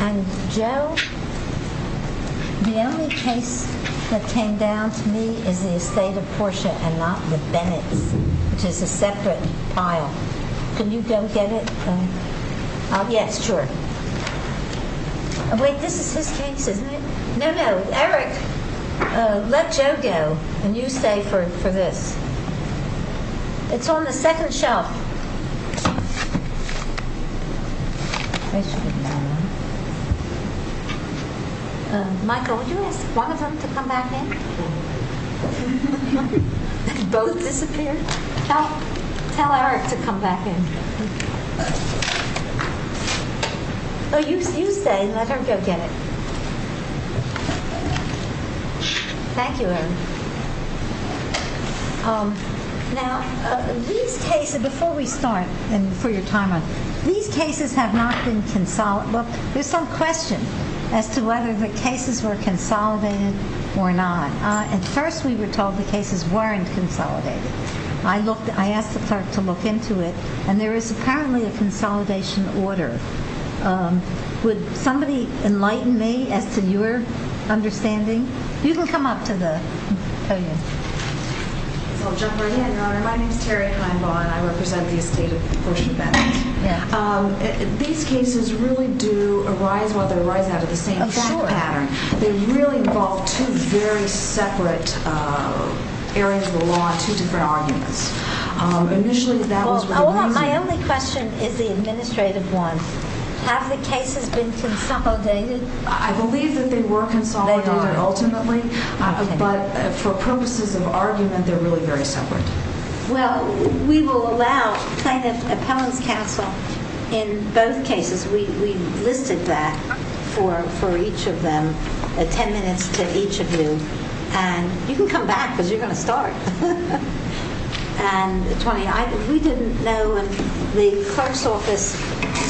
And Joe, the only case that came down to me is the estate of Portia and not the Bennetts, which is a separate pile. Can you go get it? Yes, sure. Oh, wait, this is his case, isn't it? No, no, Eric, let Joe go and you stay for this. It's on the second shelf. Michael, would you ask one of them to come back in? Both disappeared? Tell Eric to come back in. Oh, you stay and let Eric go get it. Thank you, Eric. Now, these cases, before we start, and for your time, these cases have not been consolidated. Look, there's some question as to whether the cases were consolidated or not. At first we were told the cases weren't consolidated. I asked the clerk to look into it, and there is apparently a consolidation order. Would somebody enlighten me as to your understanding? You can come up to the podium. I'll jump right in, Your Honor. My name is Terri Heinbaugh, and I represent the estate of Portia Bennetts. These cases really do arise while they arise out of the same pattern. They really involve two very separate areas of the law and two different arguments. My only question is the administrative one. Have the cases been consolidated? I believe that they were consolidated ultimately, but for purposes of argument, they're really very separate. Well, we will allow plaintiff appellants counsel in both cases. We listed that for each of them, 10 minutes to each of you, and you can come back because you're going to start. We didn't know, and the clerk's office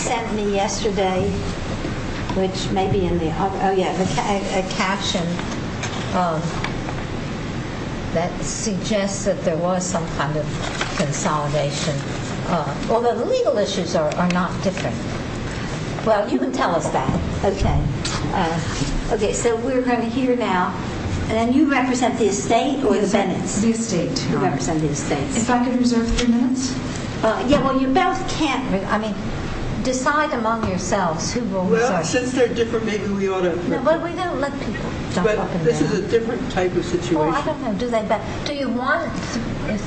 sent me yesterday a caption that suggests that there was some kind of consolidation, although the legal issues are not different. Well, you can tell us that. Okay, so we're going to hear now, and you represent the estate or the Bennetts? The estate. You represent the estate. If I could reserve three minutes? Yeah, well, you both can't. I mean, decide among yourselves who will reserve three minutes. Well, since they're different, maybe we ought to... No, but we don't let people jump up and down. But this is a different type of situation. Well, I'm not going to do that, but do you want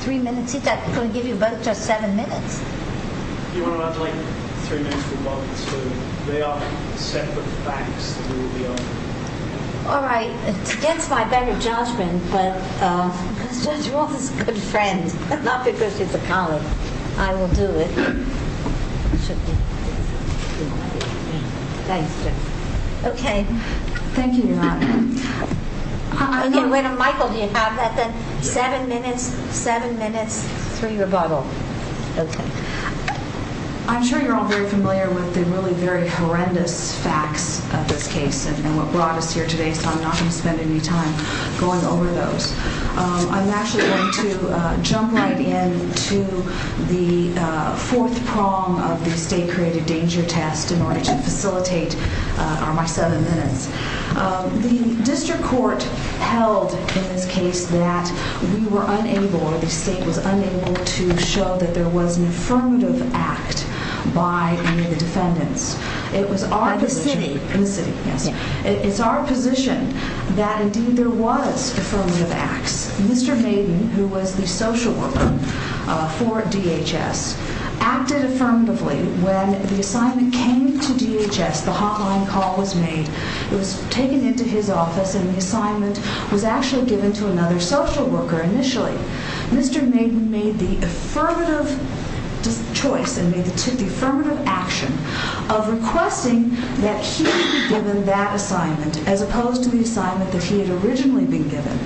three minutes each? I'm going to give you both just seven minutes. You want to have, like, three minutes for one, so they are separate facts that we will be on. All right. It's against my better judgment, but Judge Roth is a good friend, not because he's a colleague. I will do it. Thanks, Judge. Okay. Thank you. You're welcome. I'm getting rid of Michael. Do you have that then? Seven minutes? Seven minutes? Three of a bottle. Okay. I'm sure you're all very familiar with the really very horrendous facts of this case and what brought us here today, so I'm not going to spend any time going over those. I'm actually going to jump right in to the fourth prong of the estate-created danger test in order to facilitate my seven minutes. The district court held in this case that we were unable or the state was unable to show that there was an affirmative act by any of the defendants. It was our position. In the city. In the city, yes. It's our position that, indeed, there was affirmative acts. Mr. Maiden, who was the social worker for DHS, acted affirmatively. When the assignment came to DHS, the hotline call was made. It was taken into his office, and the assignment was actually given to another social worker initially. Mr. Maiden made the affirmative choice and made the affirmative action of requesting that he be given that assignment as opposed to the assignment that he had originally been given.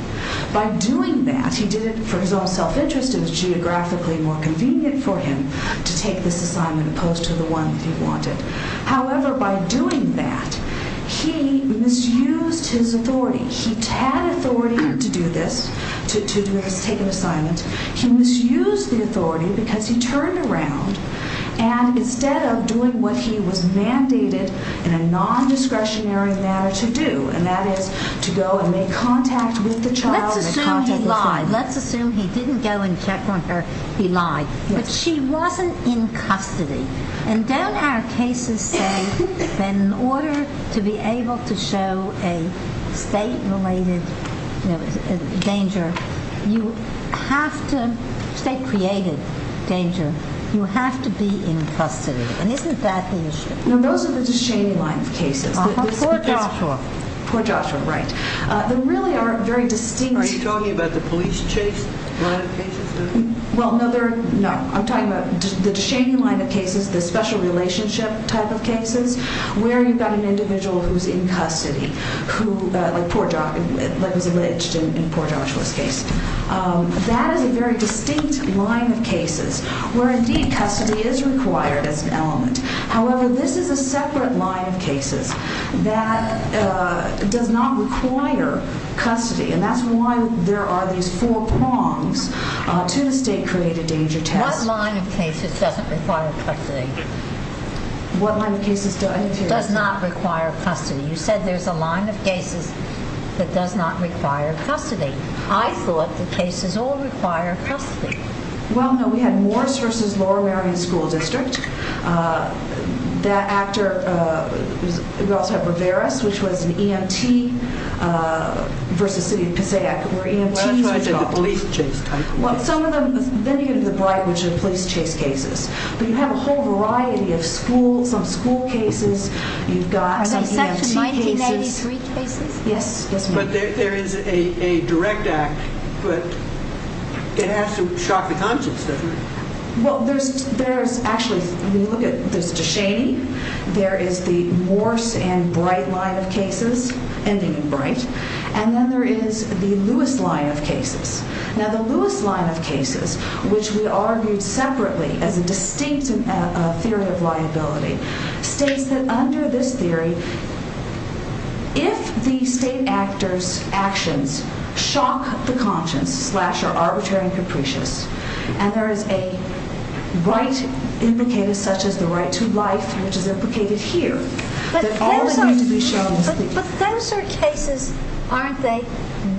By doing that, he did it for his own self-interest. It was geographically more convenient for him to take this assignment opposed to the one that he wanted. However, by doing that, he misused his authority. He had authority to do this, to take an assignment. He misused the authority because he turned around, and instead of doing what he was mandated in a non-discretionary manner to do, and that is to go and make contact with the child. Let's assume he lied. Let's assume he didn't go and check on her. He lied. But she wasn't in custody. Don't our cases say that in order to be able to show a state-related danger, state-created danger, you have to be in custody? Isn't that the issue? No, those are the Ducheney line of cases. Poor Joshua. Poor Joshua, right. They really are very distinct. Are you talking about the police chase line of cases? Well, no. I'm talking about the Ducheney line of cases, the special relationship type of cases where you've got an individual who's in custody, like was alleged in poor Joshua's case. That is a very distinct line of cases where, indeed, custody is required as an element. However, this is a separate line of cases that does not require custody, and that's why there are these four prongs to the state-created danger test. What line of cases doesn't require custody? What line of cases does not require custody? You said there's a line of cases that does not require custody. I thought the cases all require custody. Well, no. We had Morris v. Lower Marion School District. That actor, we also have Riveras, which was an EMT v. City of Passaic, where EMTs were involved. Well, that's why I said the police chase type. Well, some of them, then you get into the Bright, which are police chase cases. But you have a whole variety of school, some school cases. You've got some EMT cases. Are they Section 1993 cases? Yes, yes, ma'am. But there is a direct act, but it has to shock the conscience, doesn't it? Well, there's actually, when you look at it, there's DeShaney. There is the Morris and Bright line of cases, ending in Bright. And then there is the Lewis line of cases. Now, the Lewis line of cases, which we argued separately as a distinct theory of liability, states that under this theory, if the state actor's actions shock the conscience, slash, are arbitrary and capricious, and there is a right implicated, such as the right to life, which is implicated here, that all is used to be shown as legal. But those are cases, aren't they,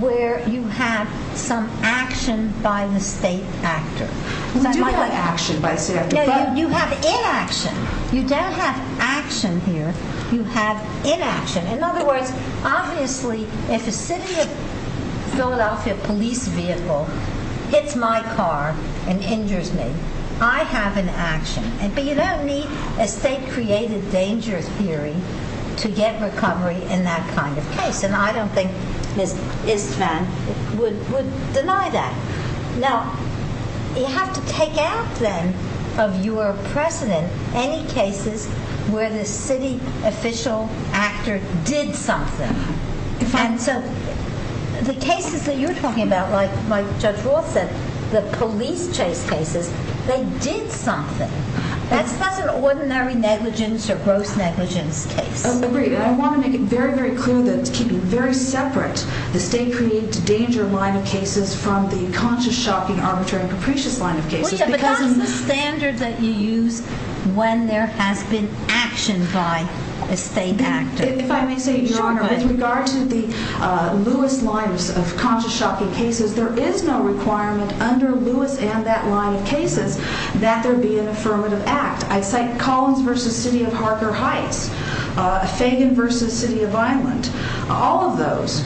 where you have some action by the state actor? We do have action by the state actor. No, you have inaction. You don't have action here. You have inaction. In other words, obviously, if a city of Philadelphia police vehicle hits my car and injures me, I have an action. But you don't need a state-created danger theory to get recovery in that kind of case. And I don't think Ms. Istvan would deny that. Now, you have to take out, then, of your precedent any cases where the city official actor did something. And so the cases that you're talking about, like Judge Roth said, the police chase cases, they did something. That's not an ordinary negligence or gross negligence case. Agreed. And I want to make it very, very clear that it's keeping very separate the state-created danger line of cases from the conscious, shocking, arbitrary, and capricious line of cases. Well, yeah, but that's the standard that you use when there has been action by a state actor. If I may say, Your Honor, with regard to the Lewis line of conscious, shocking cases, there is no requirement under Lewis and that line of cases that there be an affirmative act. I cite Collins v. City of Harker Heights, Fagan v. City of Vineland. All of those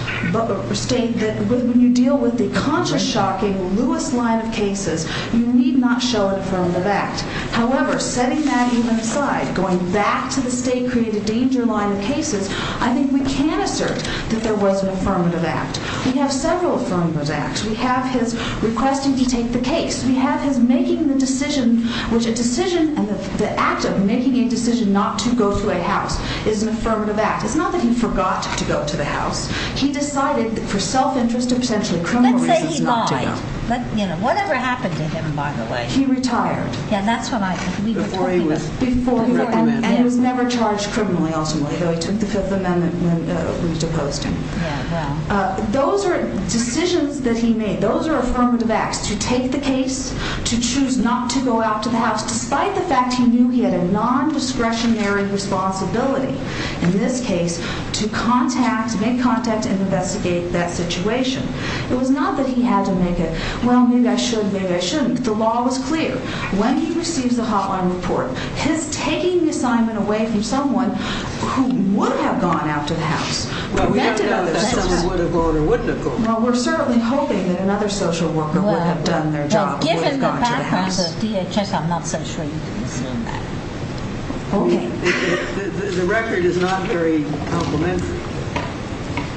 state that when you deal with the conscious, shocking Lewis line of cases, you need not show an affirmative act. However, setting that even aside, going back to the state-created danger line of cases, I think we can assert that there was an affirmative act. We have several affirmative acts. We have his requesting to take the case. We have his making the decision, which a decision and the act of making a decision not to go to a house is an affirmative act. It's not that he forgot to go to the house. He decided for self-interest or potentially criminal reasons not to go. Let's say he lied. Whatever happened to him, by the way? He retired. Yeah, that's what I think. Before he was. Before he was. And he was never charged criminally, ultimately, though he took the Fifth Amendment when it was deposed to him. Yeah, yeah. Those are decisions that he made. Those are affirmative acts to take the case, to choose not to go out to the house, despite the fact he knew he had a nondiscretionary responsibility, in this case, to contact, make contact and investigate that situation. It was not that he had to make a, well, maybe I should, maybe I shouldn't. The law was clear. When he receives a hotline report, his taking the assignment away from someone who would have gone out to the house Well, we don't know if someone would have gone or wouldn't have gone. Well, we're certainly hoping that another social worker would have done their job and would have gone to the house. Well, given the background of DHS, I'm not so sure you can assume that. Okay. The record is not very complimentary.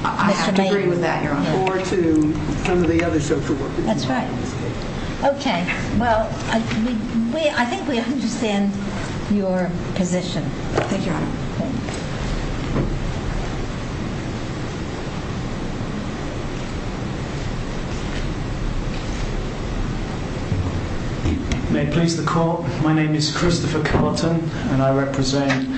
I have to agree with that, Your Honor. Or to some of the other social workers. That's right. Okay. Well, I think we understand your position. Thank you, Your Honor. Thank you. May it please the Court, my name is Christopher Carlton and I represent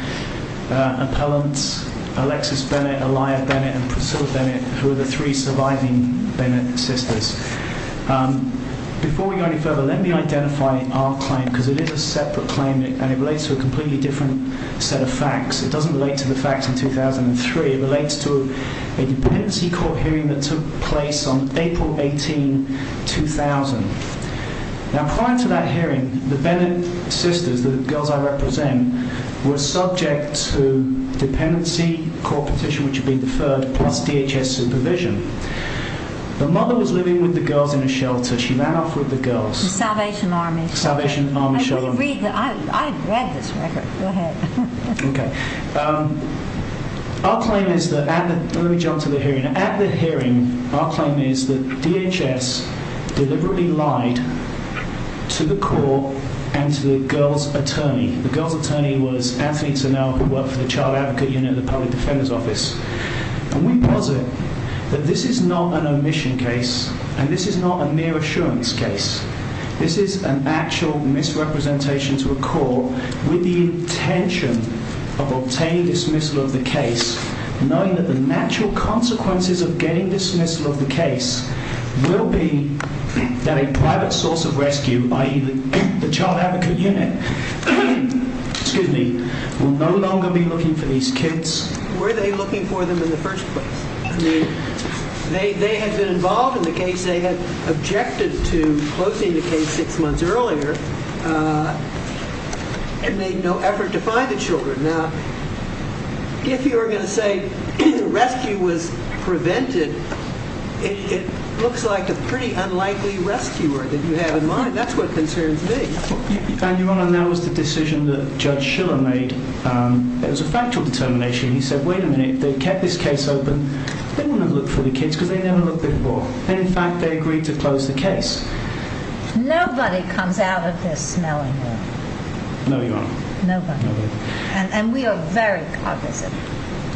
appellants Alexis Bennett, Aliyah Bennett and Priscilla Bennett, who are the three surviving Bennett sisters. Before we go any further, let me identify our claim, because it is a separate claim and it relates to a completely different set of facts. It doesn't relate to the facts in 2003. It relates to a dependency court hearing that took place on April 18, 2000. Now, prior to that hearing, the Bennett sisters, the girls I represent, were subject to dependency court petition, which had been deferred, plus DHS supervision. The mother was living with the girls in a shelter. She ran off with the girls. The Salvation Army. The Salvation Army shelter. I read this record. Go ahead. Okay. Our claim is that, let me jump to the hearing. At the hearing, our claim is that DHS deliberately lied to the court and to the girls' attorney. The girls' attorney was Anthony Turnell, who worked for the Child Advocate Unit at the Public Defender's Office. And we posit that this is not an omission case and this is not a mere assurance case. This is an actual misrepresentation to a court with the intention of obtaining dismissal of the case, knowing that the natural consequences of getting dismissal of the case will be that a private source of rescue, i.e., the Child Advocate Unit, will no longer be looking for these kids. Were they looking for them in the first place? I mean, they had been involved in the case. They had objected to closing the case six months earlier and made no effort to find the children. Now, if you were going to say the rescue was prevented, it looks like a pretty unlikely rescuer that you have in mind. That's what concerns me. Your Honor, that was the decision that Judge Schiller made. It was a factual determination. He said, wait a minute, if they kept this case open, they wouldn't have looked for the kids because they never looked before. And, in fact, they agreed to close the case. Nobody comes out of this smelling it. No, Your Honor. Nobody. And we are very cognizant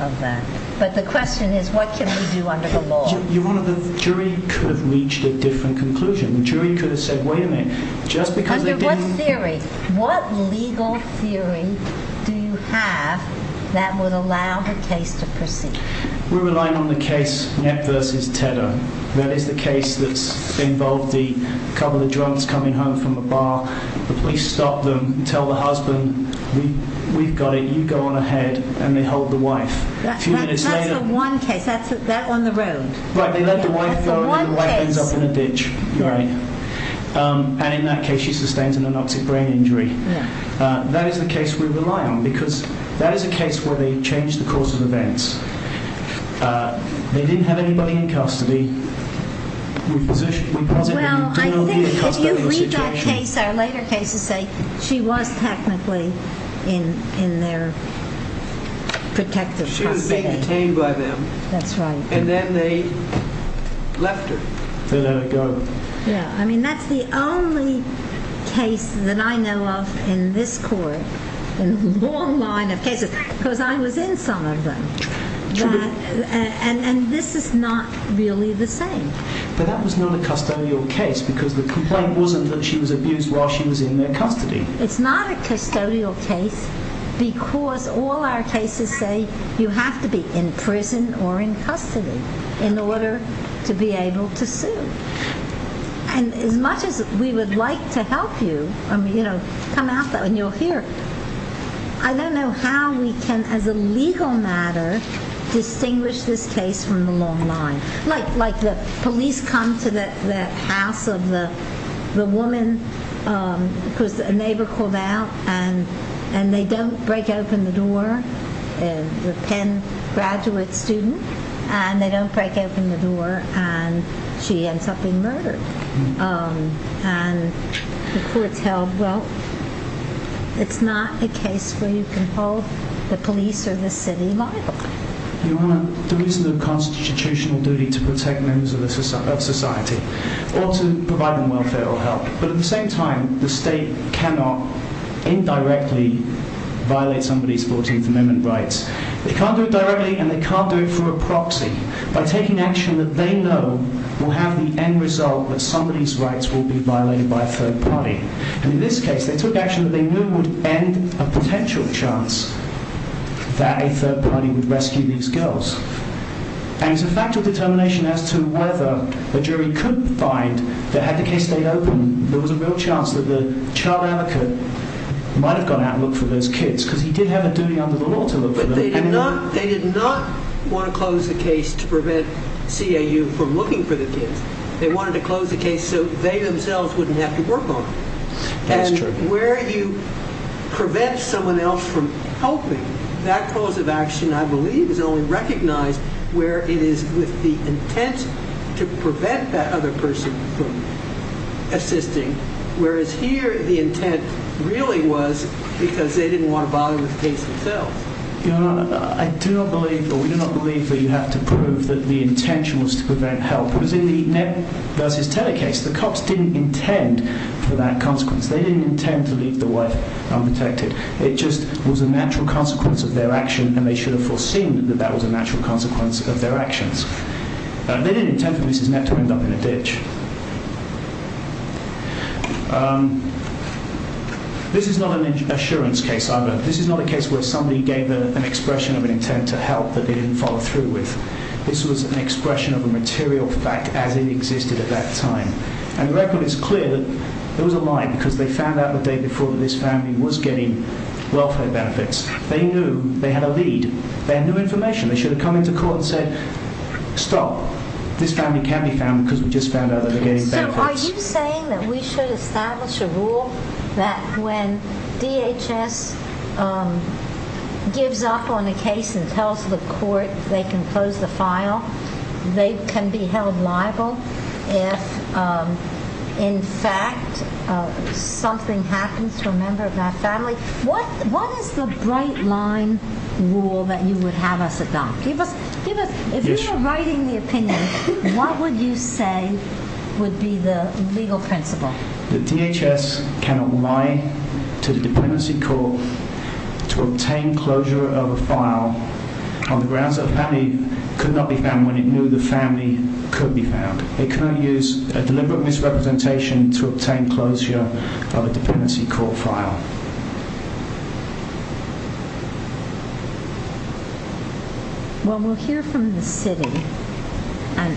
of that. But the question is what can we do under the law? Your Honor, the jury could have reached a different conclusion. The jury could have said, wait a minute, just because they didn't— Under what theory? do you have that would allow the case to proceed? We're relying on the case Nett v. Tedder. That is the case that's involved the couple of drunks coming home from a bar. The police stop them, tell the husband, we've got it, you go on ahead, and they hold the wife. That's the one case, that on the road. Right, they let the wife go and the wife ends up in a ditch. And, in that case, she sustains an anoxic brain injury. That is the case we rely on because that is a case where they change the course of events. They didn't have anybody in custody. We posit that we don't know the entire situation. Well, I think if you read that case, our later cases say she was technically in their protective custody. She would have been detained by them. That's right. And then they left her. They let her go. I mean, that's the only case that I know of in this court, in a long line of cases, because I was in some of them. And this is not really the same. But that was not a custodial case because the complaint wasn't that she was abused while she was in their custody. It's not a custodial case because all our cases say you have to be in prison or in custody in order to be able to sue. And as much as we would like to help you, I mean, you know, come out and you'll hear, I don't know how we can, as a legal matter, distinguish this case from the long line. Like the police come to the house of the woman because a neighbor called out and they don't break open the door. A Penn graduate student. And they don't break open the door and she ends up being murdered. And the courts held, well, it's not a case where you can hold the police or the city liable. Your Honor, there is a constitutional duty to protect members of society or to provide them welfare or help. But at the same time, the state cannot indirectly violate somebody's 14th Amendment rights. They can't do it directly and they can't do it through a proxy. By taking action that they know will have the end result that somebody's rights will be violated by a third party. And in this case, they took action that they knew would end a potential chance that a third party would rescue these girls. And it's a factual determination as to whether a jury could find that had the case stayed open, there was a real chance that the child advocate might have gone out and looked for those kids. Because he did have a duty under the law to look for them. But they did not want to close the case to prevent CAU from looking for the kids. They wanted to close the case so they themselves wouldn't have to work on it. That's true. Where you prevent someone else from helping, that cause of action, I believe, is only recognized where it is with the intent to prevent that other person from assisting. Whereas here, the intent really was because they didn't want to bother with the case themselves. Your Honor, I do not believe or we do not believe that you have to prove that the intention was to prevent help. It was in the Nett v. Taylor case. The cops didn't intend for that consequence. They didn't intend to leave the wife unprotected. It just was a natural consequence of their action, and they should have foreseen that that was a natural consequence of their actions. They didn't intend for Mrs. Nett to end up in a ditch. This is not an assurance case either. This is not a case where somebody gave an expression of an intent to help that they didn't follow through with. This was an expression of a material fact as it existed at that time. And the record is clear that there was a lie because they found out the day before that this family was getting welfare benefits. They knew they had a lead. They had new information. They should have come into court and said, Stop. This family can be found because we just found out that they're getting benefits. So are you saying that we should establish a rule that when DHS gives up on a case and tells the court they can close the file, they can be held liable if, in fact, something happens to a member of that family? What is the bright-line rule that you would have us adopt? If you were writing the opinion, what would you say would be the legal principle? That DHS cannot lie to the dependency court to obtain closure of a file on the grounds that the family could not be found when it knew the family could be found. They cannot use a deliberate misrepresentation to obtain closure of a dependency court file. Well, we'll hear from the city and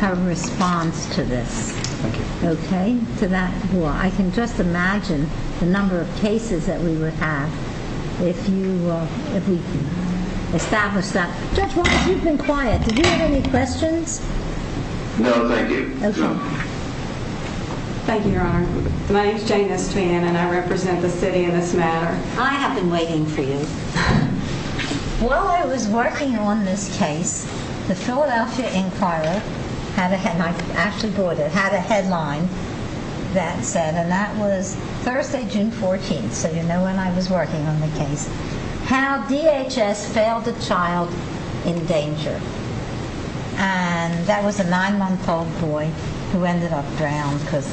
have a response to this. Thank you. Okay? I can just imagine the number of cases that we would have if we established that. Judge Roberts, you've been quiet. Did you have any questions? No, thank you. Okay. Thank you, Your Honor. My name is Janice Twain, and I represent the city in this matter. I have been waiting for you. While I was working on this case, the Philadelphia Inquirer had a headline. It had a headline that said, and that was Thursday, June 14th, so you know when I was working on the case, how DHS failed a child in danger. And that was a nine-month-old boy who ended up drowned because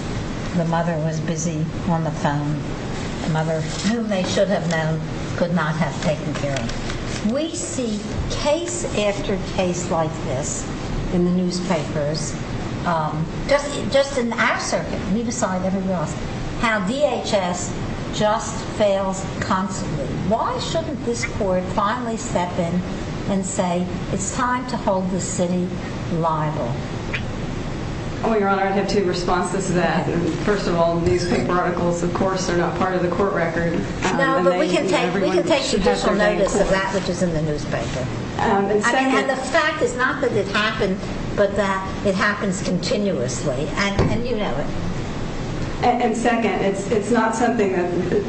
the mother was busy on the phone. The mother, whom they should have known, could not have taken care of him. We see case after case like this in the newspapers, just in our circuit, leave aside everyone else, how DHS just fails constantly. Why shouldn't this court finally step in and say, it's time to hold the city liable? Well, Your Honor, I'd have two responses to that. First of all, newspaper articles, of course, are not part of the court record. No, but we can take judicial notice of that which is in the newspaper. And the fact is not that it happened, but that it happens continuously, and you know it. And second, it's not something that,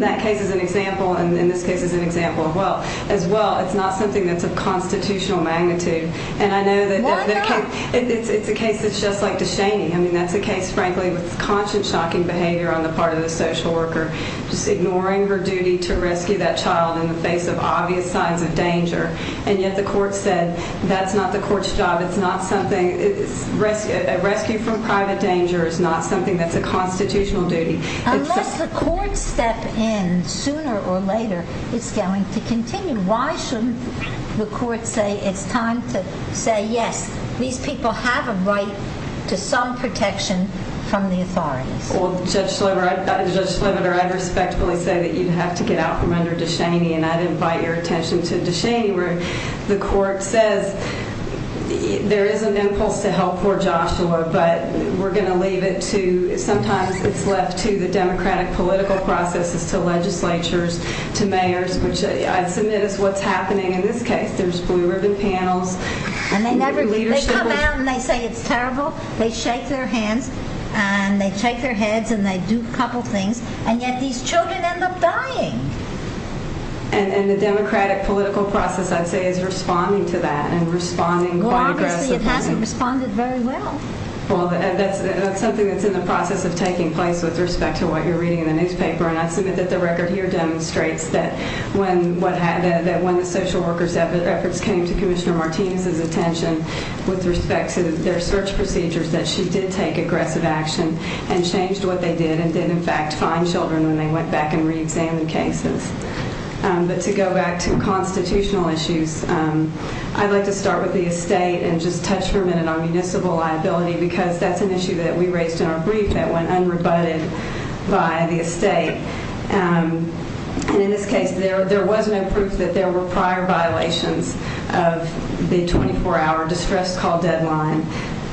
that case is an example, and this case is an example as well, it's not something that's of constitutional magnitude. And I know that it's a case that's just like DeShaney. I mean, that's a case, frankly, with conscience-shocking behavior on the part of the social worker just ignoring her duty to rescue that child in the face of obvious signs of danger. And yet the court said that's not the court's job. It's not something, rescue from private danger is not something that's a constitutional duty. Unless the court steps in sooner or later, it's going to continue. Why shouldn't the court say it's time to say, yes, these people have a right to some protection from the authorities? Well, Judge Schlimmer, I'd respectfully say that you'd have to get out from under DeShaney, and I'd invite your attention to DeShaney where the court says there is an impulse to help poor Joshua, but we're going to leave it to, sometimes it's left to the democratic political processes, to legislatures, to mayors, which I submit is what's happening in this case. There's blue ribbon panels. And they never, they come out and they say it's terrible. They shake their hands and they shake their heads and they do a couple things, and yet these children end up dying. And the democratic political process, I'd say, is responding to that and responding quite aggressively. Well, obviously it hasn't responded very well. Well, that's something that's in the process of taking place with respect to what you're reading in the newspaper, and I submit that the record here demonstrates that when the social worker's efforts came to Commissioner Martinez's attention with respect to their search procedures, that she did take aggressive action and changed what they did and did, in fact, find children when they went back and reexamined cases. But to go back to constitutional issues, I'd like to start with the estate and just touch for a minute on municipal liability because that's an issue that we raised in our brief that went unrebutted by the estate. And in this case, there was no proof that there were prior violations of the 24-hour distress call deadline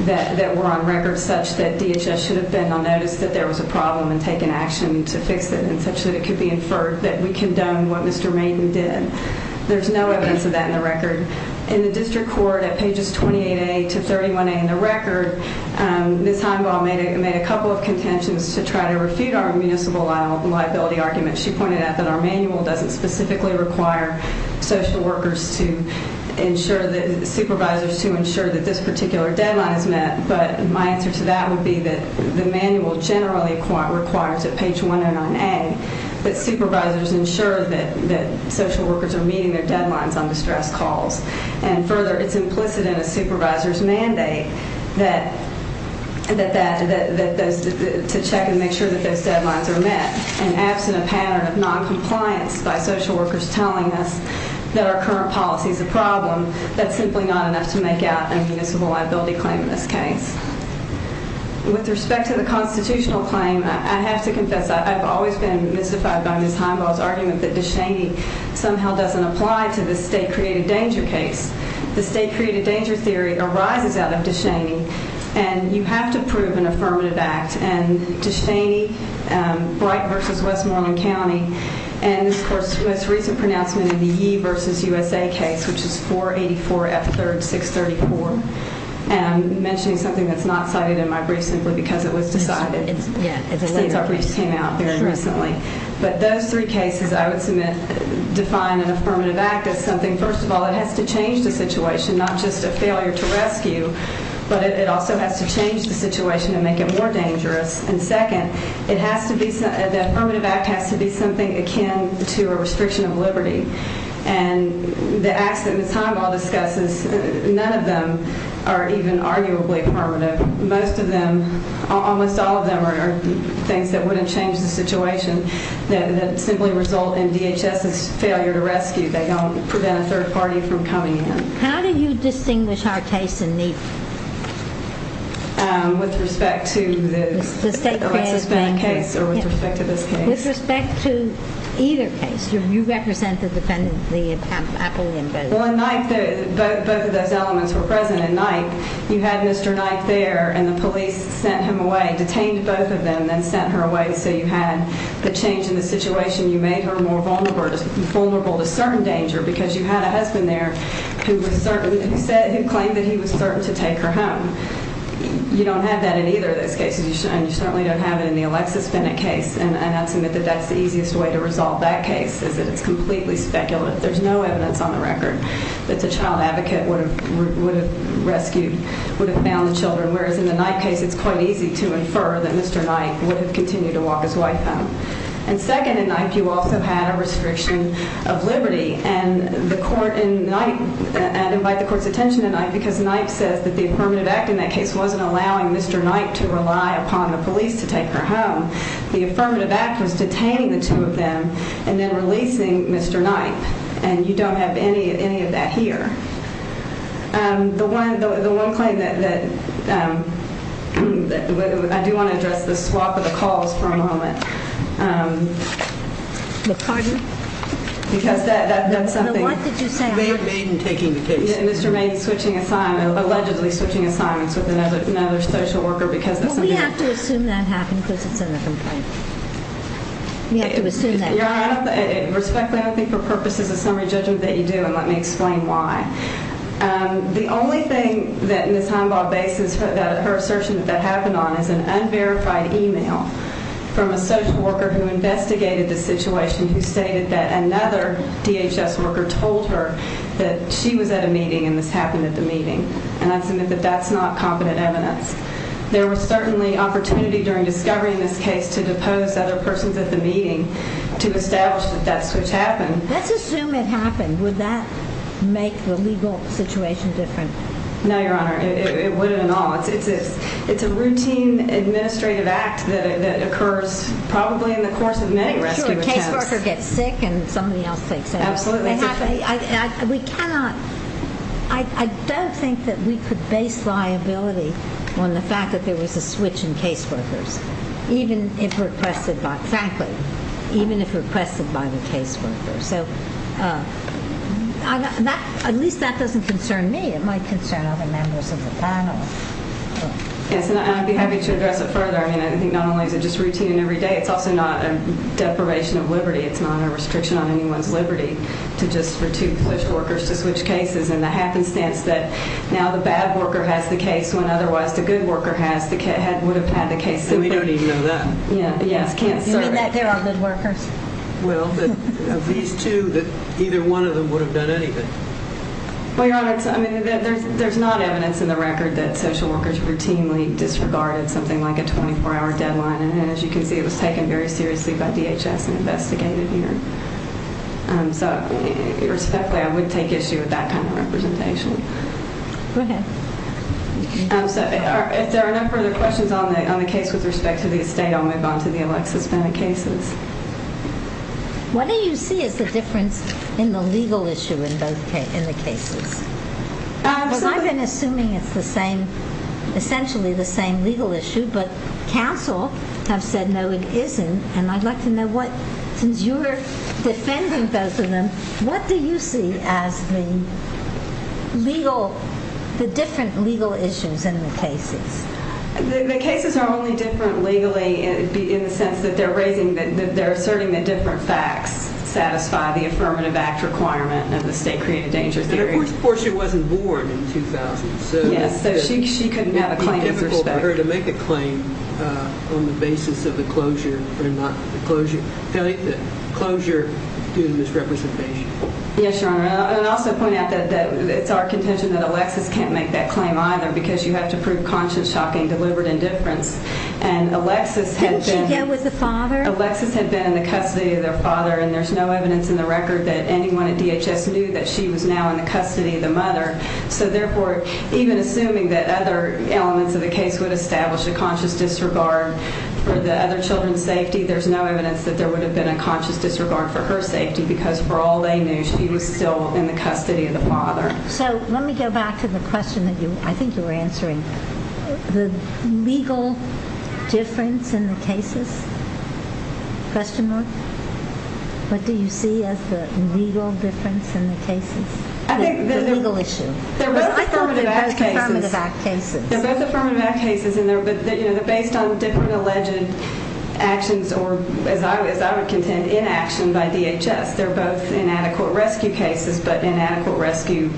that were on record such that DHS should have been on notice that there was a problem and taken action to fix it in such that it could be inferred that we condone what Mr. Maiden did. There's no evidence of that in the record. In the district court, at pages 28A to 31A in the record, Ms. Heimbaugh made a couple of contentions to try to refute our municipal liability argument. She pointed out that our manual doesn't specifically require social workers to ensure that supervisors to ensure that this particular deadline is met, but my answer to that would be that the manual generally requires at page 109A that supervisors ensure that social workers are meeting their deadlines on distress calls. And further, it's implicit in a supervisor's mandate to check and make sure that those deadlines are met. And absent a pattern of noncompliance by social workers telling us that our current policy is a problem, that's simply not enough to make out a municipal liability claim in this case. With respect to the constitutional claim, I have to confess I've always been mystified by Ms. Heimbaugh's argument that DeShaney somehow doesn't apply to the state-created danger case. The state-created danger theory arises out of DeShaney, and you have to prove an affirmative act. And DeShaney, Bright v. Westmoreland County, and, of course, the most recent pronouncement of the Yee v. USA case, which is 484 F. 3rd 634, I'm mentioning something that's not cited in my brief simply because it was decided. Since our brief came out very recently. But those three cases, I would submit, define an affirmative act as something, first of all, that has to change the situation, not just a failure to rescue, but it also has to change the situation and make it more dangerous. And second, the affirmative act has to be something akin to a restriction of liberty. And the acts that Ms. Heimbaugh discusses, none of them are even arguably affirmative. Most of them, almost all of them, are things that wouldn't change the situation that simply result in DHS's failure to rescue. They don't prevent a third party from coming in. How do you distinguish our case in these? With respect to the state-created danger case or with respect to this case? With respect to either case. You represent the appellee in both. Well, in Knight, both of those elements were present. In Knight, you had Mr. Knight there and the police sent him away, detained both of them, then sent her away. So you had the change in the situation, you made her more vulnerable to certain danger because you had a husband there who claimed that he was certain to take her home. You don't have that in either of those cases, and you certainly don't have it in the Alexis Bennett case. And I'd submit that that's the easiest way to resolve that case, is that it's completely speculative. There's no evidence on the record that the child advocate would have rescued, would have found the children, whereas in the Knight case, it's quite easy to infer that Mr. Knight would have continued to walk his wife home. And second, in Knight, you also had a restriction of liberty, and the court in Knight, I'd invite the court's attention in Knight because Knight says that the affirmative act in that case wasn't allowing Mr. Knight to rely upon the police to take her home. The affirmative act was detaining the two of them and then releasing Mr. Knight, and you don't have any of that here. The one claim that I do want to address, the swap of the calls for a moment. The pardon? Because that's something. The what did you say afterwards? Maiden taking the case. Mr. Maiden allegedly switching assignments with another social worker because that's something else. Well, we have to assume that happened because it's in the complaint. We have to assume that. Your Honor, respectfully, I don't think for purposes of summary judgment that you do, and let me explain why. The only thing that Ms. Heimbaugh bases her assertion that that happened on is an unverified email from a social worker who investigated the situation who stated that another DHS worker told her that she was at a meeting and this happened at the meeting, and I submit that that's not competent evidence. There was certainly opportunity during discovery in this case to depose other persons at the meeting to establish that that switch happened. Let's assume it happened. Would that make the legal situation different? No, Your Honor, it wouldn't at all. It's a routine administrative act that occurs probably in the course of many rescue attempts. Make sure a caseworker gets sick and somebody else takes care of it. Absolutely. We cannot. I don't think that we could base liability on the fact that there was a switch in caseworkers, even if requested by the caseworker. So at least that doesn't concern me. It might concern other members of the panel. Yes, and I'd be happy to address it further. I mean, I think not only is it just routine every day, it's also not a deprivation of liberty. It's not a restriction on anyone's liberty to just for two caseworkers to switch cases, and the happenstance that now the bad worker has the case when otherwise the good worker would have had the case simply. And we don't even know that. Yes. You mean that there are good workers? Well, of these two, either one of them would have done anything. Well, Your Honor, I mean, there's not evidence in the record that social workers routinely disregarded something like a 24-hour deadline, and as you can see, it was taken very seriously by DHS and investigated here. So respectfully, I would take issue with that kind of representation. Go ahead. If there are no further questions on the case with respect to the estate, I'll move on to the Alexis Bennett cases. What do you see as the difference in the legal issue in the cases? Because I've been assuming it's essentially the same legal issue, but counsel have said, no, it isn't, and I'd like to know what, since you're defending both of them, what do you see as the different legal issues in the cases? The cases are only different legally in the sense that they're asserting that different facts satisfy the Affirmative Act requirement of the State Created Danger Theory. But of course she wasn't born in 2000. Yes, so she couldn't have a claimant's respect. For her to make a claim on the basis of the closure and not the closure due to misrepresentation. Yes, Your Honor, and I'll also point out that it's our contention that Alexis can't make that claim either because you have to prove conscious, shocking, deliberate indifference, and Alexis had been in the custody of their father, and there's no evidence in the record that anyone at DHS knew that she was now in the custody of the mother. So therefore, even assuming that other elements of the case would establish a conscious disregard for the other children's safety, there's no evidence that there would have been a conscious disregard for her safety because for all they knew, she was still in the custody of the father. So let me go back to the question that I think you were answering. The legal difference in the cases? Question mark? What do you see as the legal difference in the cases? The legal issue. They're both Affirmative Act cases. They're both Affirmative Act cases, and they're based on different alleged actions or, as I would contend, inaction by DHS. They're both inadequate rescue cases but inadequate rescue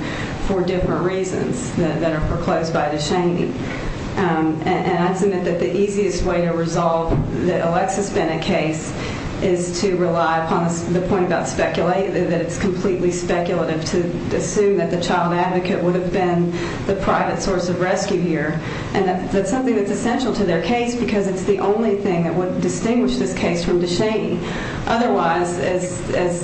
for different reasons that are proclosed by the shamee. And I submit that the easiest way to resolve the Alexis Bennett case is to rely upon the point that it's completely speculative to assume that the child advocate would have been the private source of rescue here. And that's something that's essential to their case because it's the only thing that would distinguish this case from the shamee. Otherwise, as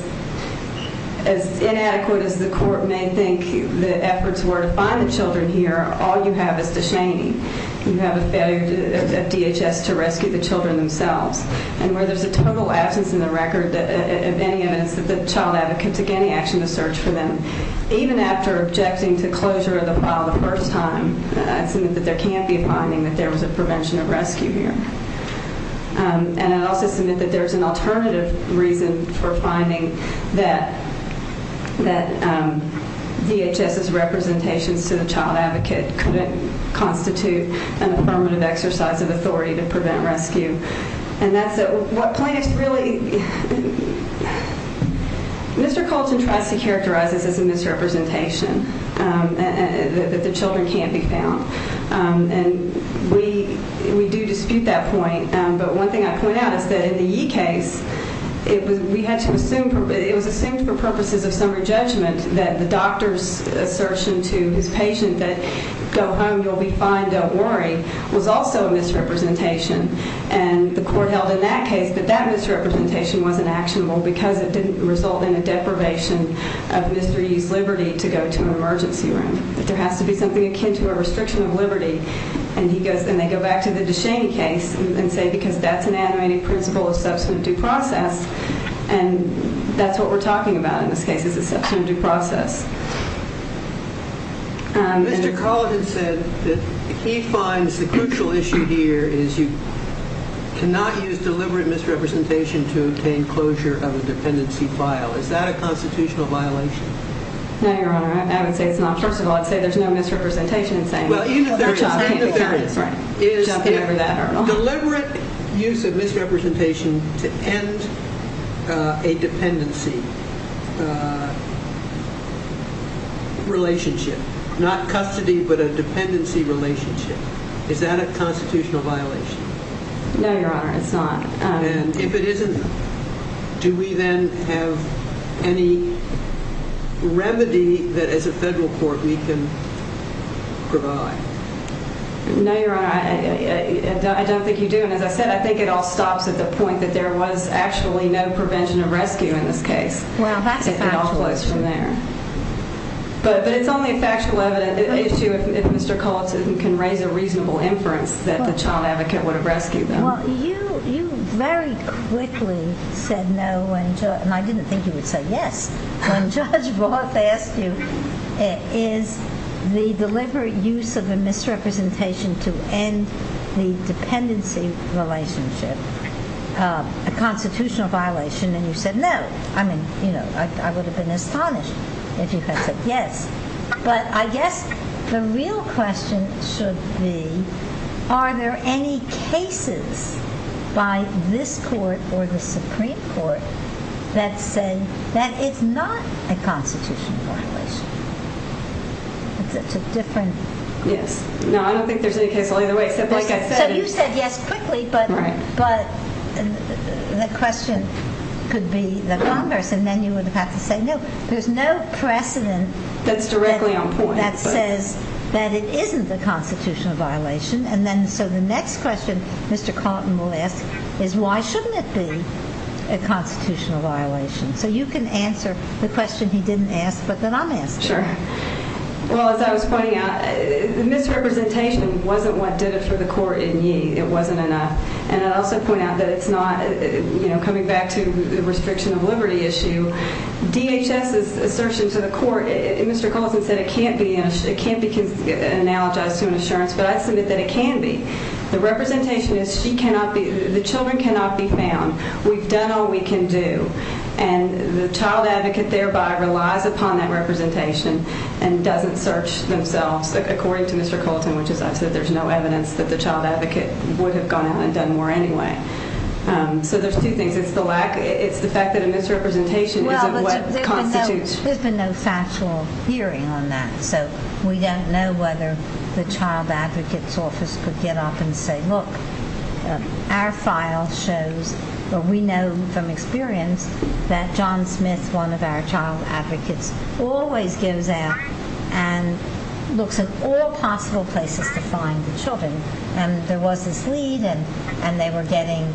inadequate as the court may think the efforts were to find the children here, all you have is the shamee. You have a failure at DHS to rescue the children themselves. And where there's a total absence in the record of any evidence that the child advocate took any action to search for them, even after objecting to closure of the file the first time, I submit that there can't be a finding that there was a prevention of rescue here. And I'd also submit that there's an alternative reason for finding that DHS's representations to the child advocate couldn't constitute an affirmative exercise of authority to prevent rescue. And that's what plaintiffs really... Mr. Colton tries to characterize this as a misrepresentation, that the children can't be found. And we do dispute that point. But one thing I'd point out is that in the Yee case, it was assumed for purposes of summary judgment that the doctor's assertion to his patient that, go home, you'll be fine, don't worry, was also a misrepresentation. And the court held in that case that that misrepresentation wasn't actionable because it didn't result in a deprivation of Mr. Yee's liberty to go to an emergency room, that there has to be something akin to a restriction of liberty. And they go back to the DeShaney case and say, because that's an animating principle of substantive due process, and that's what we're talking about in this case is a substantive due process. Mr. Colton said that he finds the crucial issue here is you cannot use deliberate misrepresentation to obtain closure of a dependency file. Is that a constitutional violation? No, Your Honor. I would say it's not. First of all, I'd say there's no misrepresentation in saying... Well, even if there is, even if there is, it is a deliberate use of misrepresentation to end a dependency. Not custody, but a dependency relationship. Is that a constitutional violation? No, Your Honor. It's not. And if it isn't, do we then have any remedy that as a federal court we can provide? No, Your Honor. I don't think you do. And as I said, I think it all stops at the point that there was actually no prevention of rescue in this case. Wow, that's factual. It all flows from there. But it's only a factual issue if Mr. Colton can raise a reasonable inference that the child advocate would have rescued them. Well, you very quickly said no, and I didn't think you would say yes, when Judge Roth asked you, is the deliberate use of a misrepresentation to end the dependency relationship a constitutional violation? And you said no. I mean, you know, I would have been astonished if you had said yes. But I guess the real question should be, are there any cases by this court or the Supreme Court that say that it's not a constitutional violation? It's a different... Yes. No, I don't think there's any case either way, except like I said... So you said yes quickly, but the question could be the Congress, and then you would have had to say no. There's no precedent that says that it isn't a constitutional violation. And then so the next question Mr. Colton will ask is why shouldn't it be a constitutional violation? So you can answer the question he didn't ask, but then I'm asking. Sure. Well, as I was pointing out, the misrepresentation wasn't what did it for the court in Yee. It wasn't enough. And I'd also point out that it's not, you know, coming back to the restriction of liberty issue, DHS's assertion to the court, Mr. Colton said it can't be analogized to an assurance, but I submit that it can be. The representation is the children cannot be found. And the child advocate thereby relies upon that representation and doesn't search themselves, according to Mr. Colton, which is I've said there's no evidence that the child advocate would have gone out and done more anyway. So there's two things. It's the fact that a misrepresentation isn't what constitutes... Well, but there's been no factual hearing on that, so we don't know whether the child advocate's office could get up and say, look, our file shows, or we know from experience, that John Smith, one of our child advocates, always gives out and looks at all possible places to find the children. And there was this lead, and they were getting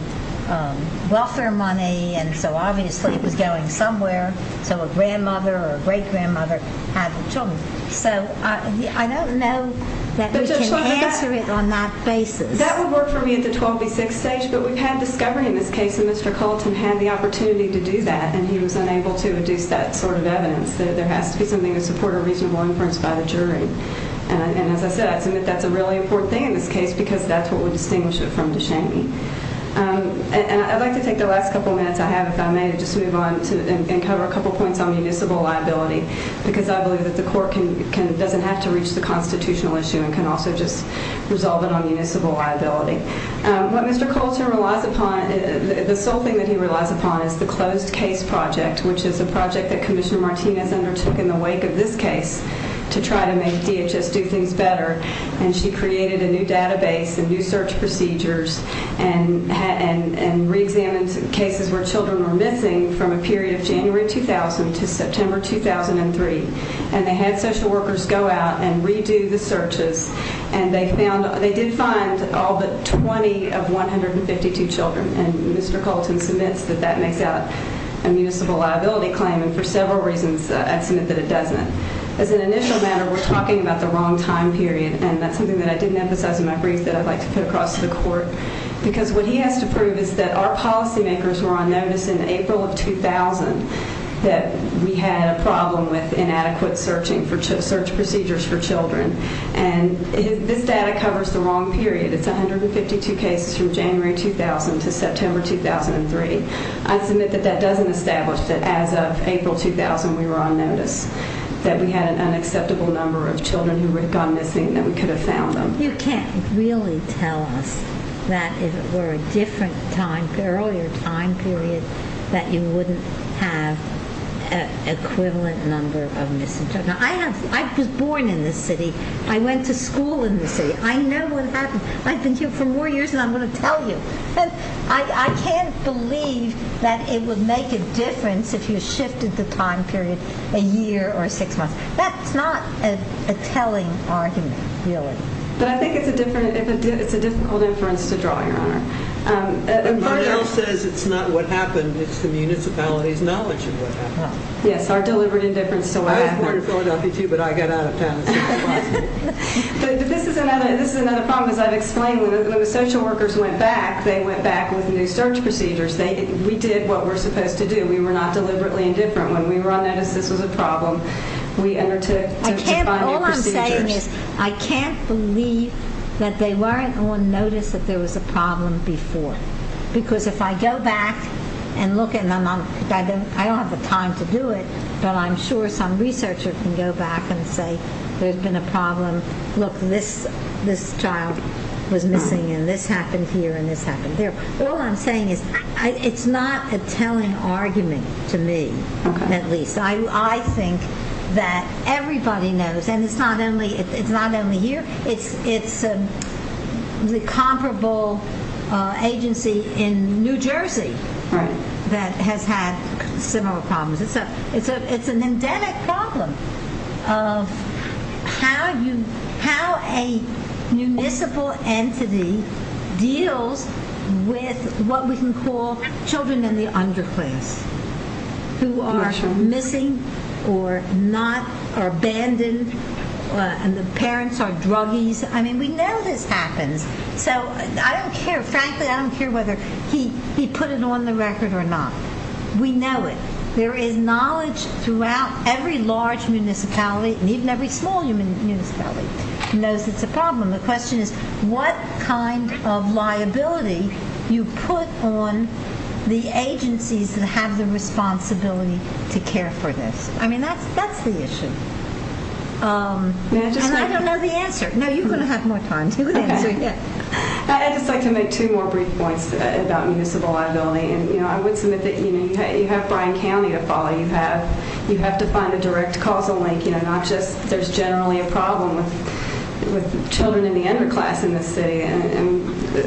welfare money, and so obviously it was going somewhere, so a grandmother or a great-grandmother had the children. So I don't know that we can answer it on that basis. That would work for me at the 12B6 stage, but we've had discovery in this case, and Mr. Colton had the opportunity to do that, and he was unable to deduce that sort of evidence, that there has to be something to support a reasonable inference by the jury. And as I said, I submit that's a really important thing in this case because that's what would distinguish it from DeShaney. And I'd like to take the last couple minutes I have, if I may, to just move on and cover a couple points on municipal liability because I believe that the court doesn't have to reach the constitutional issue and can also just resolve it on municipal liability. What Mr. Colton relies upon, the sole thing that he relies upon, is the closed case project, which is a project that Commissioner Martinez undertook in the wake of this case to try to make DHS do things better. And she created a new database and new search procedures and reexamined cases where children were missing from a period of January 2000 to September 2003. And they had social workers go out and redo the searches, and they did find all but 20 of 152 children. And Mr. Colton submits that that makes out a municipal liability claim, and for several reasons I submit that it doesn't. As an initial matter, we're talking about the wrong time period, and that's something that I didn't emphasize in my brief that I'd like to put across to the court because what he has to prove is that our policymakers were on notice in April of 2000 that we had a problem with inadequate search procedures for children. And this data covers the wrong period. It's 152 cases from January 2000 to September 2003. I submit that that doesn't establish that as of April 2000 we were on notice, that we had an unacceptable number of children who had gone missing, and that we could have found them. You can't really tell us that if it were a different time, earlier time period, that you wouldn't have an equivalent number of missing children. I was born in this city. I went to school in this city. I know what happened. I've been here for more years than I'm going to tell you. And I can't believe that it would make a difference if you shifted the time period a year or six months. That's not a telling argument, really. But I think it's a difficult inference to draw, Your Honor. If one else says it's not what happened, Yes, our deliberate indifference to what happened. I was born in Philadelphia, too, but I got out of town as soon as possible. This is another problem. As I've explained, when the social workers went back, they went back with new search procedures. We did what we're supposed to do. We were not deliberately indifferent. When we were on notice, this was a problem. We undertook to find new procedures. All I'm saying is I can't believe that they weren't on notice that there was a problem before. Because if I go back and look at it, and I don't have the time to do it, but I'm sure some researcher can go back and say there's been a problem. Look, this child was missing, and this happened here, and this happened there. All I'm saying is it's not a telling argument to me, at least. I think that everybody knows, and it's not only here, it's a comparable agency in New Jersey that has had similar problems. It's an endemic problem of how a municipal entity deals with what we can call children in the underclass who are missing or abandoned, and the parents are druggies. I mean, we know this happens, so I don't care. Frankly, I don't care whether he put it on the record or not. We know it. There is knowledge throughout every large municipality, and even every small municipality, who knows it's a problem. The question is what kind of liability you put on the agencies that have the responsibility to care for this. I mean, that's the issue. And I don't know the answer. No, you're going to have more time to answer. I'd just like to make two more brief points about municipal liability. I would submit that you have Bryan County to follow. You have to find a direct causal link. There's generally a problem with children in the underclass in this city, and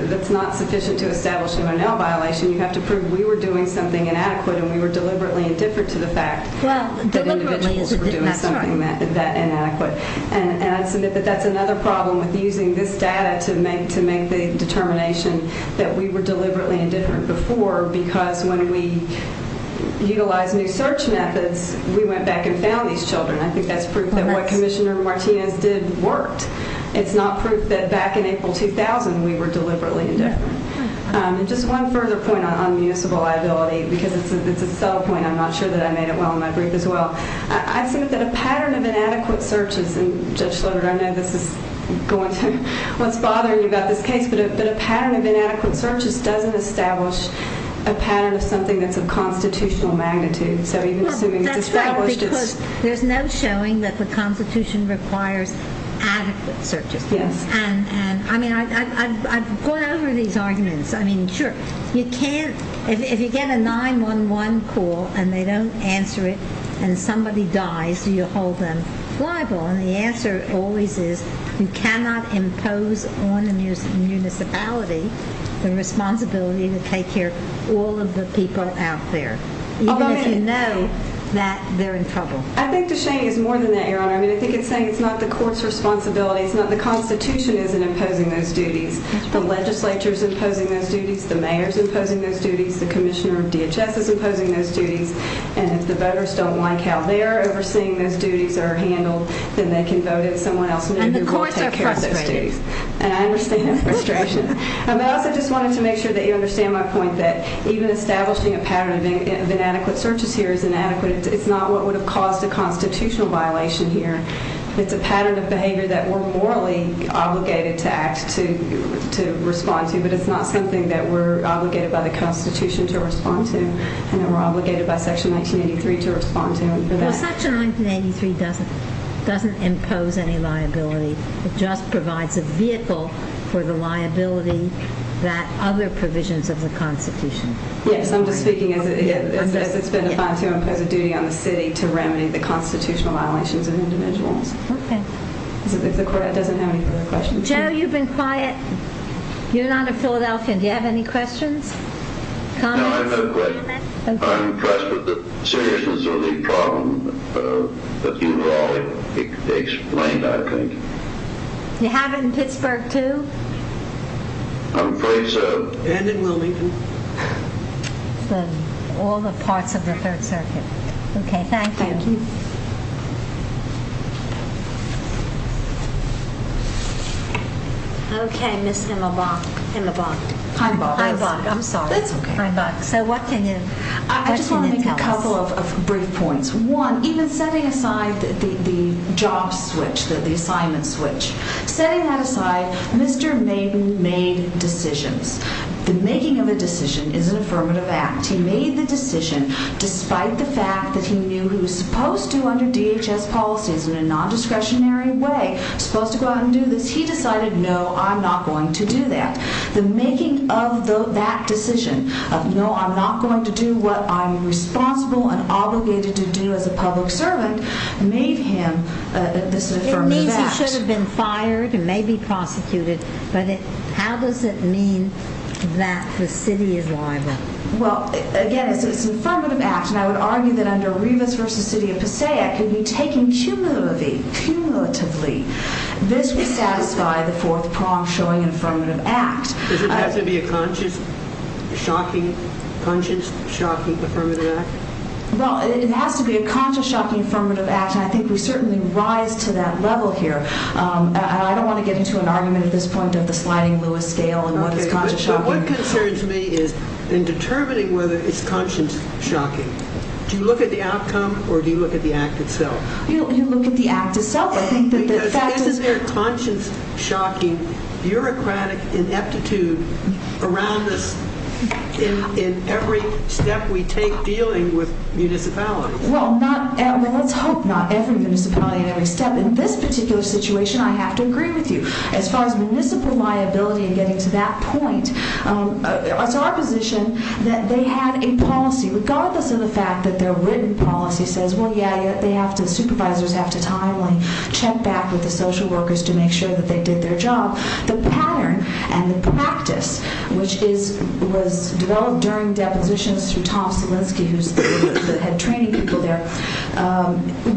that's not sufficient to establish an O'Neill violation. You have to prove we were doing something inadequate, and we were deliberately indifferent to the fact that individuals were doing something that inadequate. And I'd submit that that's another problem with using this data to make the determination that we were deliberately indifferent before, because when we utilized new search methods, we went back and found these children. I think that's proof that what Commissioner Martinez did worked. It's not proof that back in April 2000 we were deliberately indifferent. And just one further point on municipal liability, because it's a subtle point. I'm not sure that I made it well in my brief as well. I submit that a pattern of inadequate searches, and Judge Slaughter, I know this is going through what's bothering you about this case, but a pattern of inadequate searches doesn't establish a pattern of something that's of constitutional magnitude. So even assuming it's established, it's – Well, that's right, because there's no showing that the Constitution requires adequate searches. Yes. And, I mean, I've gone over these arguments. I mean, sure, you can't – if you get a 911 call and they don't answer it and somebody dies, do you hold them liable? And the answer always is you cannot impose on a municipality the responsibility to take care of all of the people out there, even if you know that they're in trouble. I think the shame is more than that, Your Honor. I mean, I think it's saying it's not the court's responsibility, it's not – the Constitution isn't imposing those duties. The legislature's imposing those duties. The mayor's imposing those duties. The commissioner of DHS is imposing those duties. And if the voters don't like how they're overseeing those duties that are handled, then they can vote if someone else – And the courts are frustrated. And I understand that frustration. I also just wanted to make sure that you understand my point that even establishing a pattern of inadequate searches here is inadequate. It's not what would have caused a constitutional violation here. It's a pattern of behavior that we're morally obligated to act to respond to, but it's not something that we're obligated by the Constitution to respond to, and that we're obligated by Section 1983 to respond to. Section 1983 doesn't impose any liability. It just provides a vehicle for the liability that other provisions of the Constitution. Yes, I'm just speaking as it's been defined to impose a duty on the city to remedy the constitutional violations of individuals. Okay. If the court doesn't have any further questions. Joe, you've been quiet. You're not of Philadelphia. Do you have any questions, comments? No, I have no questions. I'm impressed with the seriousness of the problem that you've all explained, I think. You have it in Pittsburgh, too? I'm afraid so. And in Wilmington. All the parts of the Third Circuit. Okay, thank you. Thank you. Okay, Ms. Himelbach. I'm sorry. That's okay. So what can you tell us? I just want to make a couple of brief points. One, even setting aside the job switch, the assignment switch, setting that aside, Mr. Maiden made decisions. The making of a decision is an affirmative act. He made the decision despite the fact that he knew he was supposed to under DHS policies in a non-discretionary way, supposed to go out and do this. He decided, no, I'm not going to do that. The making of that decision of, no, I'm not going to do what I'm responsible and obligated to do as a public servant made him an affirmative act. It means he should have been fired and maybe prosecuted, but how does it mean that the city is liable? Well, again, it's an affirmative act, and I would argue that under Rivas v. City of Passaic it would be taken cumulatively. This would satisfy the fourth prong showing an affirmative act. Does it have to be a conscious, shocking, conscious, shocking affirmative act? Well, it has to be a conscious, shocking affirmative act, and I think we certainly rise to that level here. I don't want to get into an argument at this point of the sliding Lewis scale and what is conscious, shocking. So what concerns me is in determining whether it's conscious, shocking, do you look at the outcome or do you look at the act itself? You look at the act itself. Because isn't there conscious, shocking, bureaucratic ineptitude around this in every step we take dealing with municipalities? Well, let's hope not every municipality in every step. In this particular situation, I have to agree with you. As far as municipal liability and getting to that point, it's our position that they have a policy, regardless of the fact that their written policy says, well, yeah, supervisors have to timely check back with the social workers to make sure that they did their job. The pattern and the practice, which was developed during depositions through Tom Salinski, who's the head training people there,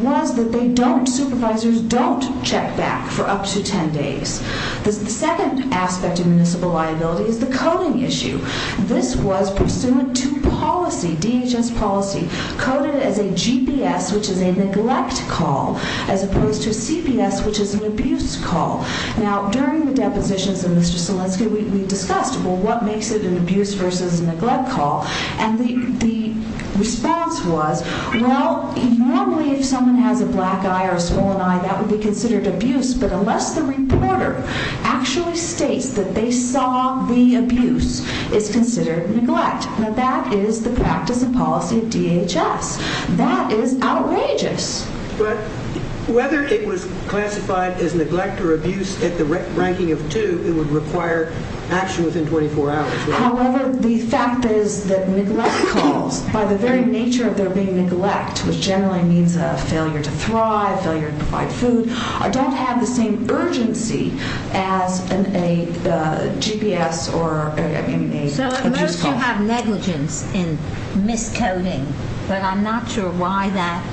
was that supervisors don't check back for up to 10 days. The second aspect of municipal liability is the coding issue. This was pursuant to policy, DHS policy, coded as a GPS, which is a neglect call, as opposed to CBS, which is an abuse call. Now, during the depositions of Mr. Salinski, we discussed, well, what makes it an abuse versus neglect call? And the response was, well, normally if someone has a black eye or a swollen eye, that would be considered abuse, but unless the reporter actually states that they saw the abuse, it's considered neglect. Now, that is the practice and policy of DHS. That is outrageous. But whether it was classified as neglect or abuse at the ranking of two, it would require action within 24 hours. However, the fact is that neglect calls, by the very nature of their being neglect, which generally means a failure to thrive, failure to provide food, don't have the same urgency as a GPS or an abuse call. So those who have negligence in miscoding, but I'm not sure why that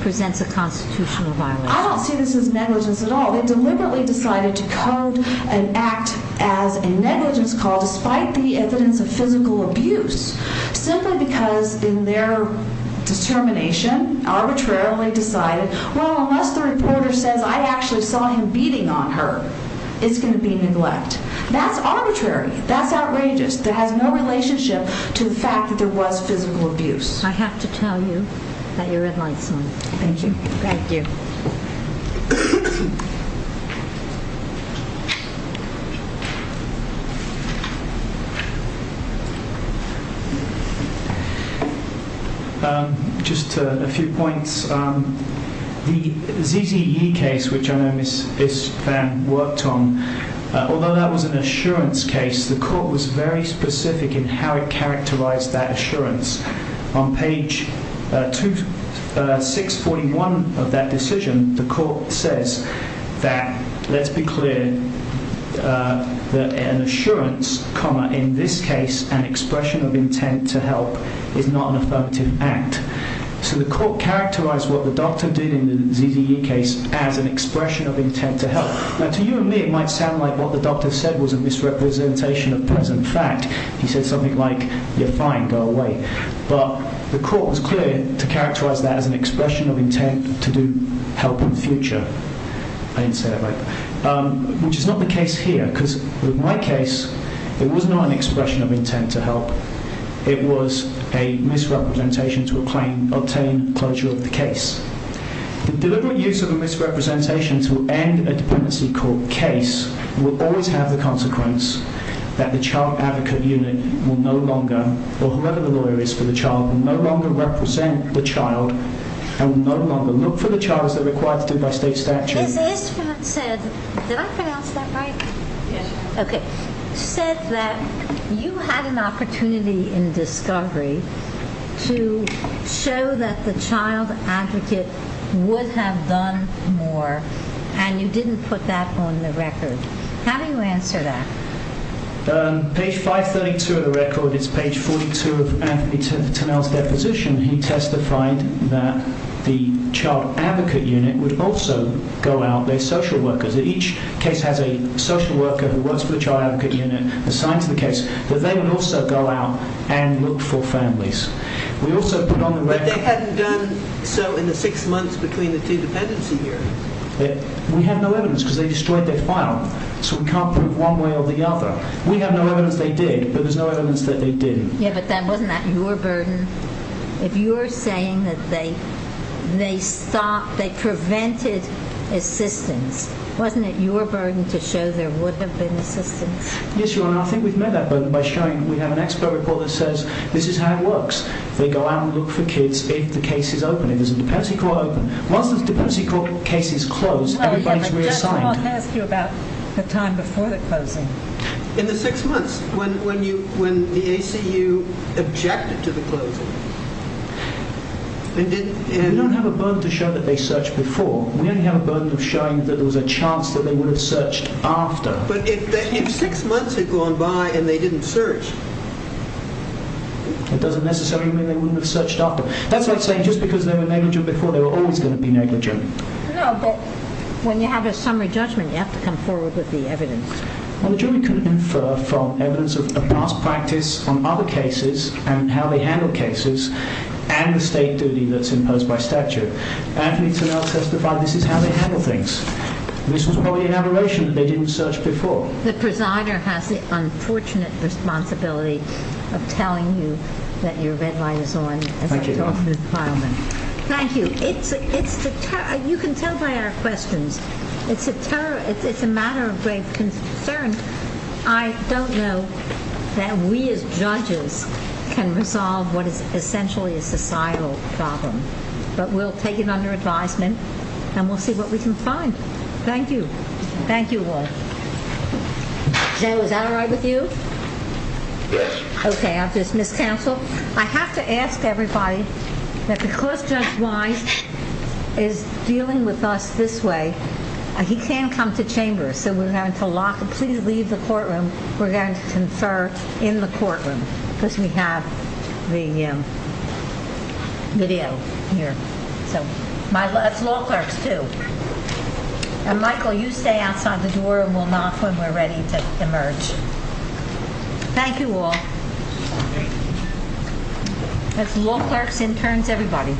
presents a constitutional violation. I don't see this as negligence at all. They deliberately decided to code and act as a negligence call despite the evidence of physical abuse simply because in their determination, arbitrarily decided, well, unless the reporter says I actually saw him beating on her, it's going to be neglect. That's arbitrary. That's outrageous. That has no relationship to the fact that there was physical abuse. I have to tell you that your red light's on. Thank you. Thank you. Just a few points. The ZZE case, which I know Ms. Phan worked on, although that was an assurance case, the court was very specific in how it characterized that assurance. On page 641 of that decision, the court says that, let's be clear, that an assurance, in this case, an expression of intent to help is not an affirmative act. So the court characterized what the doctor did in the ZZE case as an expression of intent to help. Now, to you and me, it might sound like what the doctor said was a misrepresentation of present fact. He said something like, you're fine, go away. But the court was clear to characterize that as an expression of intent to do help in future. I didn't say that right. Which is not the case here. Because with my case, it was not an expression of intent to help. It was a misrepresentation to obtain closure of the case. The deliberate use of a misrepresentation to end a dependency court case will always have the consequence that the child advocate unit will no longer, or whoever the lawyer is for the child, will no longer represent the child and will no longer look for the child as they're required to do by state statute. Ms. Isfrat said, did I pronounce that right? Yes. Okay. She said that you had an opportunity in discovery to show that the child advocate would have done more and you didn't put that on the record. How do you answer that? Page 532 of the record is page 42 of Tanel's deposition. He testified that the child advocate unit would also go out their social workers. Each case has a social worker who works for the child advocate unit assigned to the case, but they would also go out and look for families. We also put on the record... But they hadn't done so in the six months between the two dependency hearings. We have no evidence because they destroyed their file. So we can't prove one way or the other. We have no evidence they did, but there's no evidence that they didn't. Yeah, but wasn't that your burden? If you're saying that they prevented assistance, wasn't it your burden to show there would have been assistance? Yes, Your Honor. I think we've met that burden by showing we have an expert report that says this is how it works. They go out and look for kids if the case is open, if there's a dependency court open. Once the dependency court case is closed, everybody's reassigned. I just want to ask you about the time before the closing. In the six months, when the ACU objected to the closing... We don't have a burden to show that they searched before. We only have a burden of showing that there was a chance that they would have searched after. But if six months had gone by and they didn't search... It doesn't necessarily mean they wouldn't have searched after. That's like saying just because they were negligent before, they were always going to be negligent. No, but when you have a summary judgment, you have to come forward with the evidence. Well, the jury couldn't infer from evidence of past practice on other cases and how they handle cases and the state duty that's imposed by statute. Anthony Turnell testified this is how they handle things. This was probably an aberration that they didn't search before. The presider has the unfortunate responsibility of telling you that your red light is on. Thank you, Your Honor. Thank you. You can tell by our questions. It's a matter of grave concern. I don't know that we as judges can resolve what is essentially a societal problem. But we'll take it under advisement and we'll see what we can find. Thank you. Thank you all. Joe, is that all right with you? Yes. Okay, I'll just miscounsel. I have to ask everybody that because Judge Wise is dealing with us this way, he can come to chamber. So we're going to lock him. Please leave the courtroom. We're going to confer in the courtroom because we have the video here. That's law clerks too. And Michael, you stay outside the door and we'll knock when we're ready to emerge. Thank you all. That's law clerks, interns, everybody.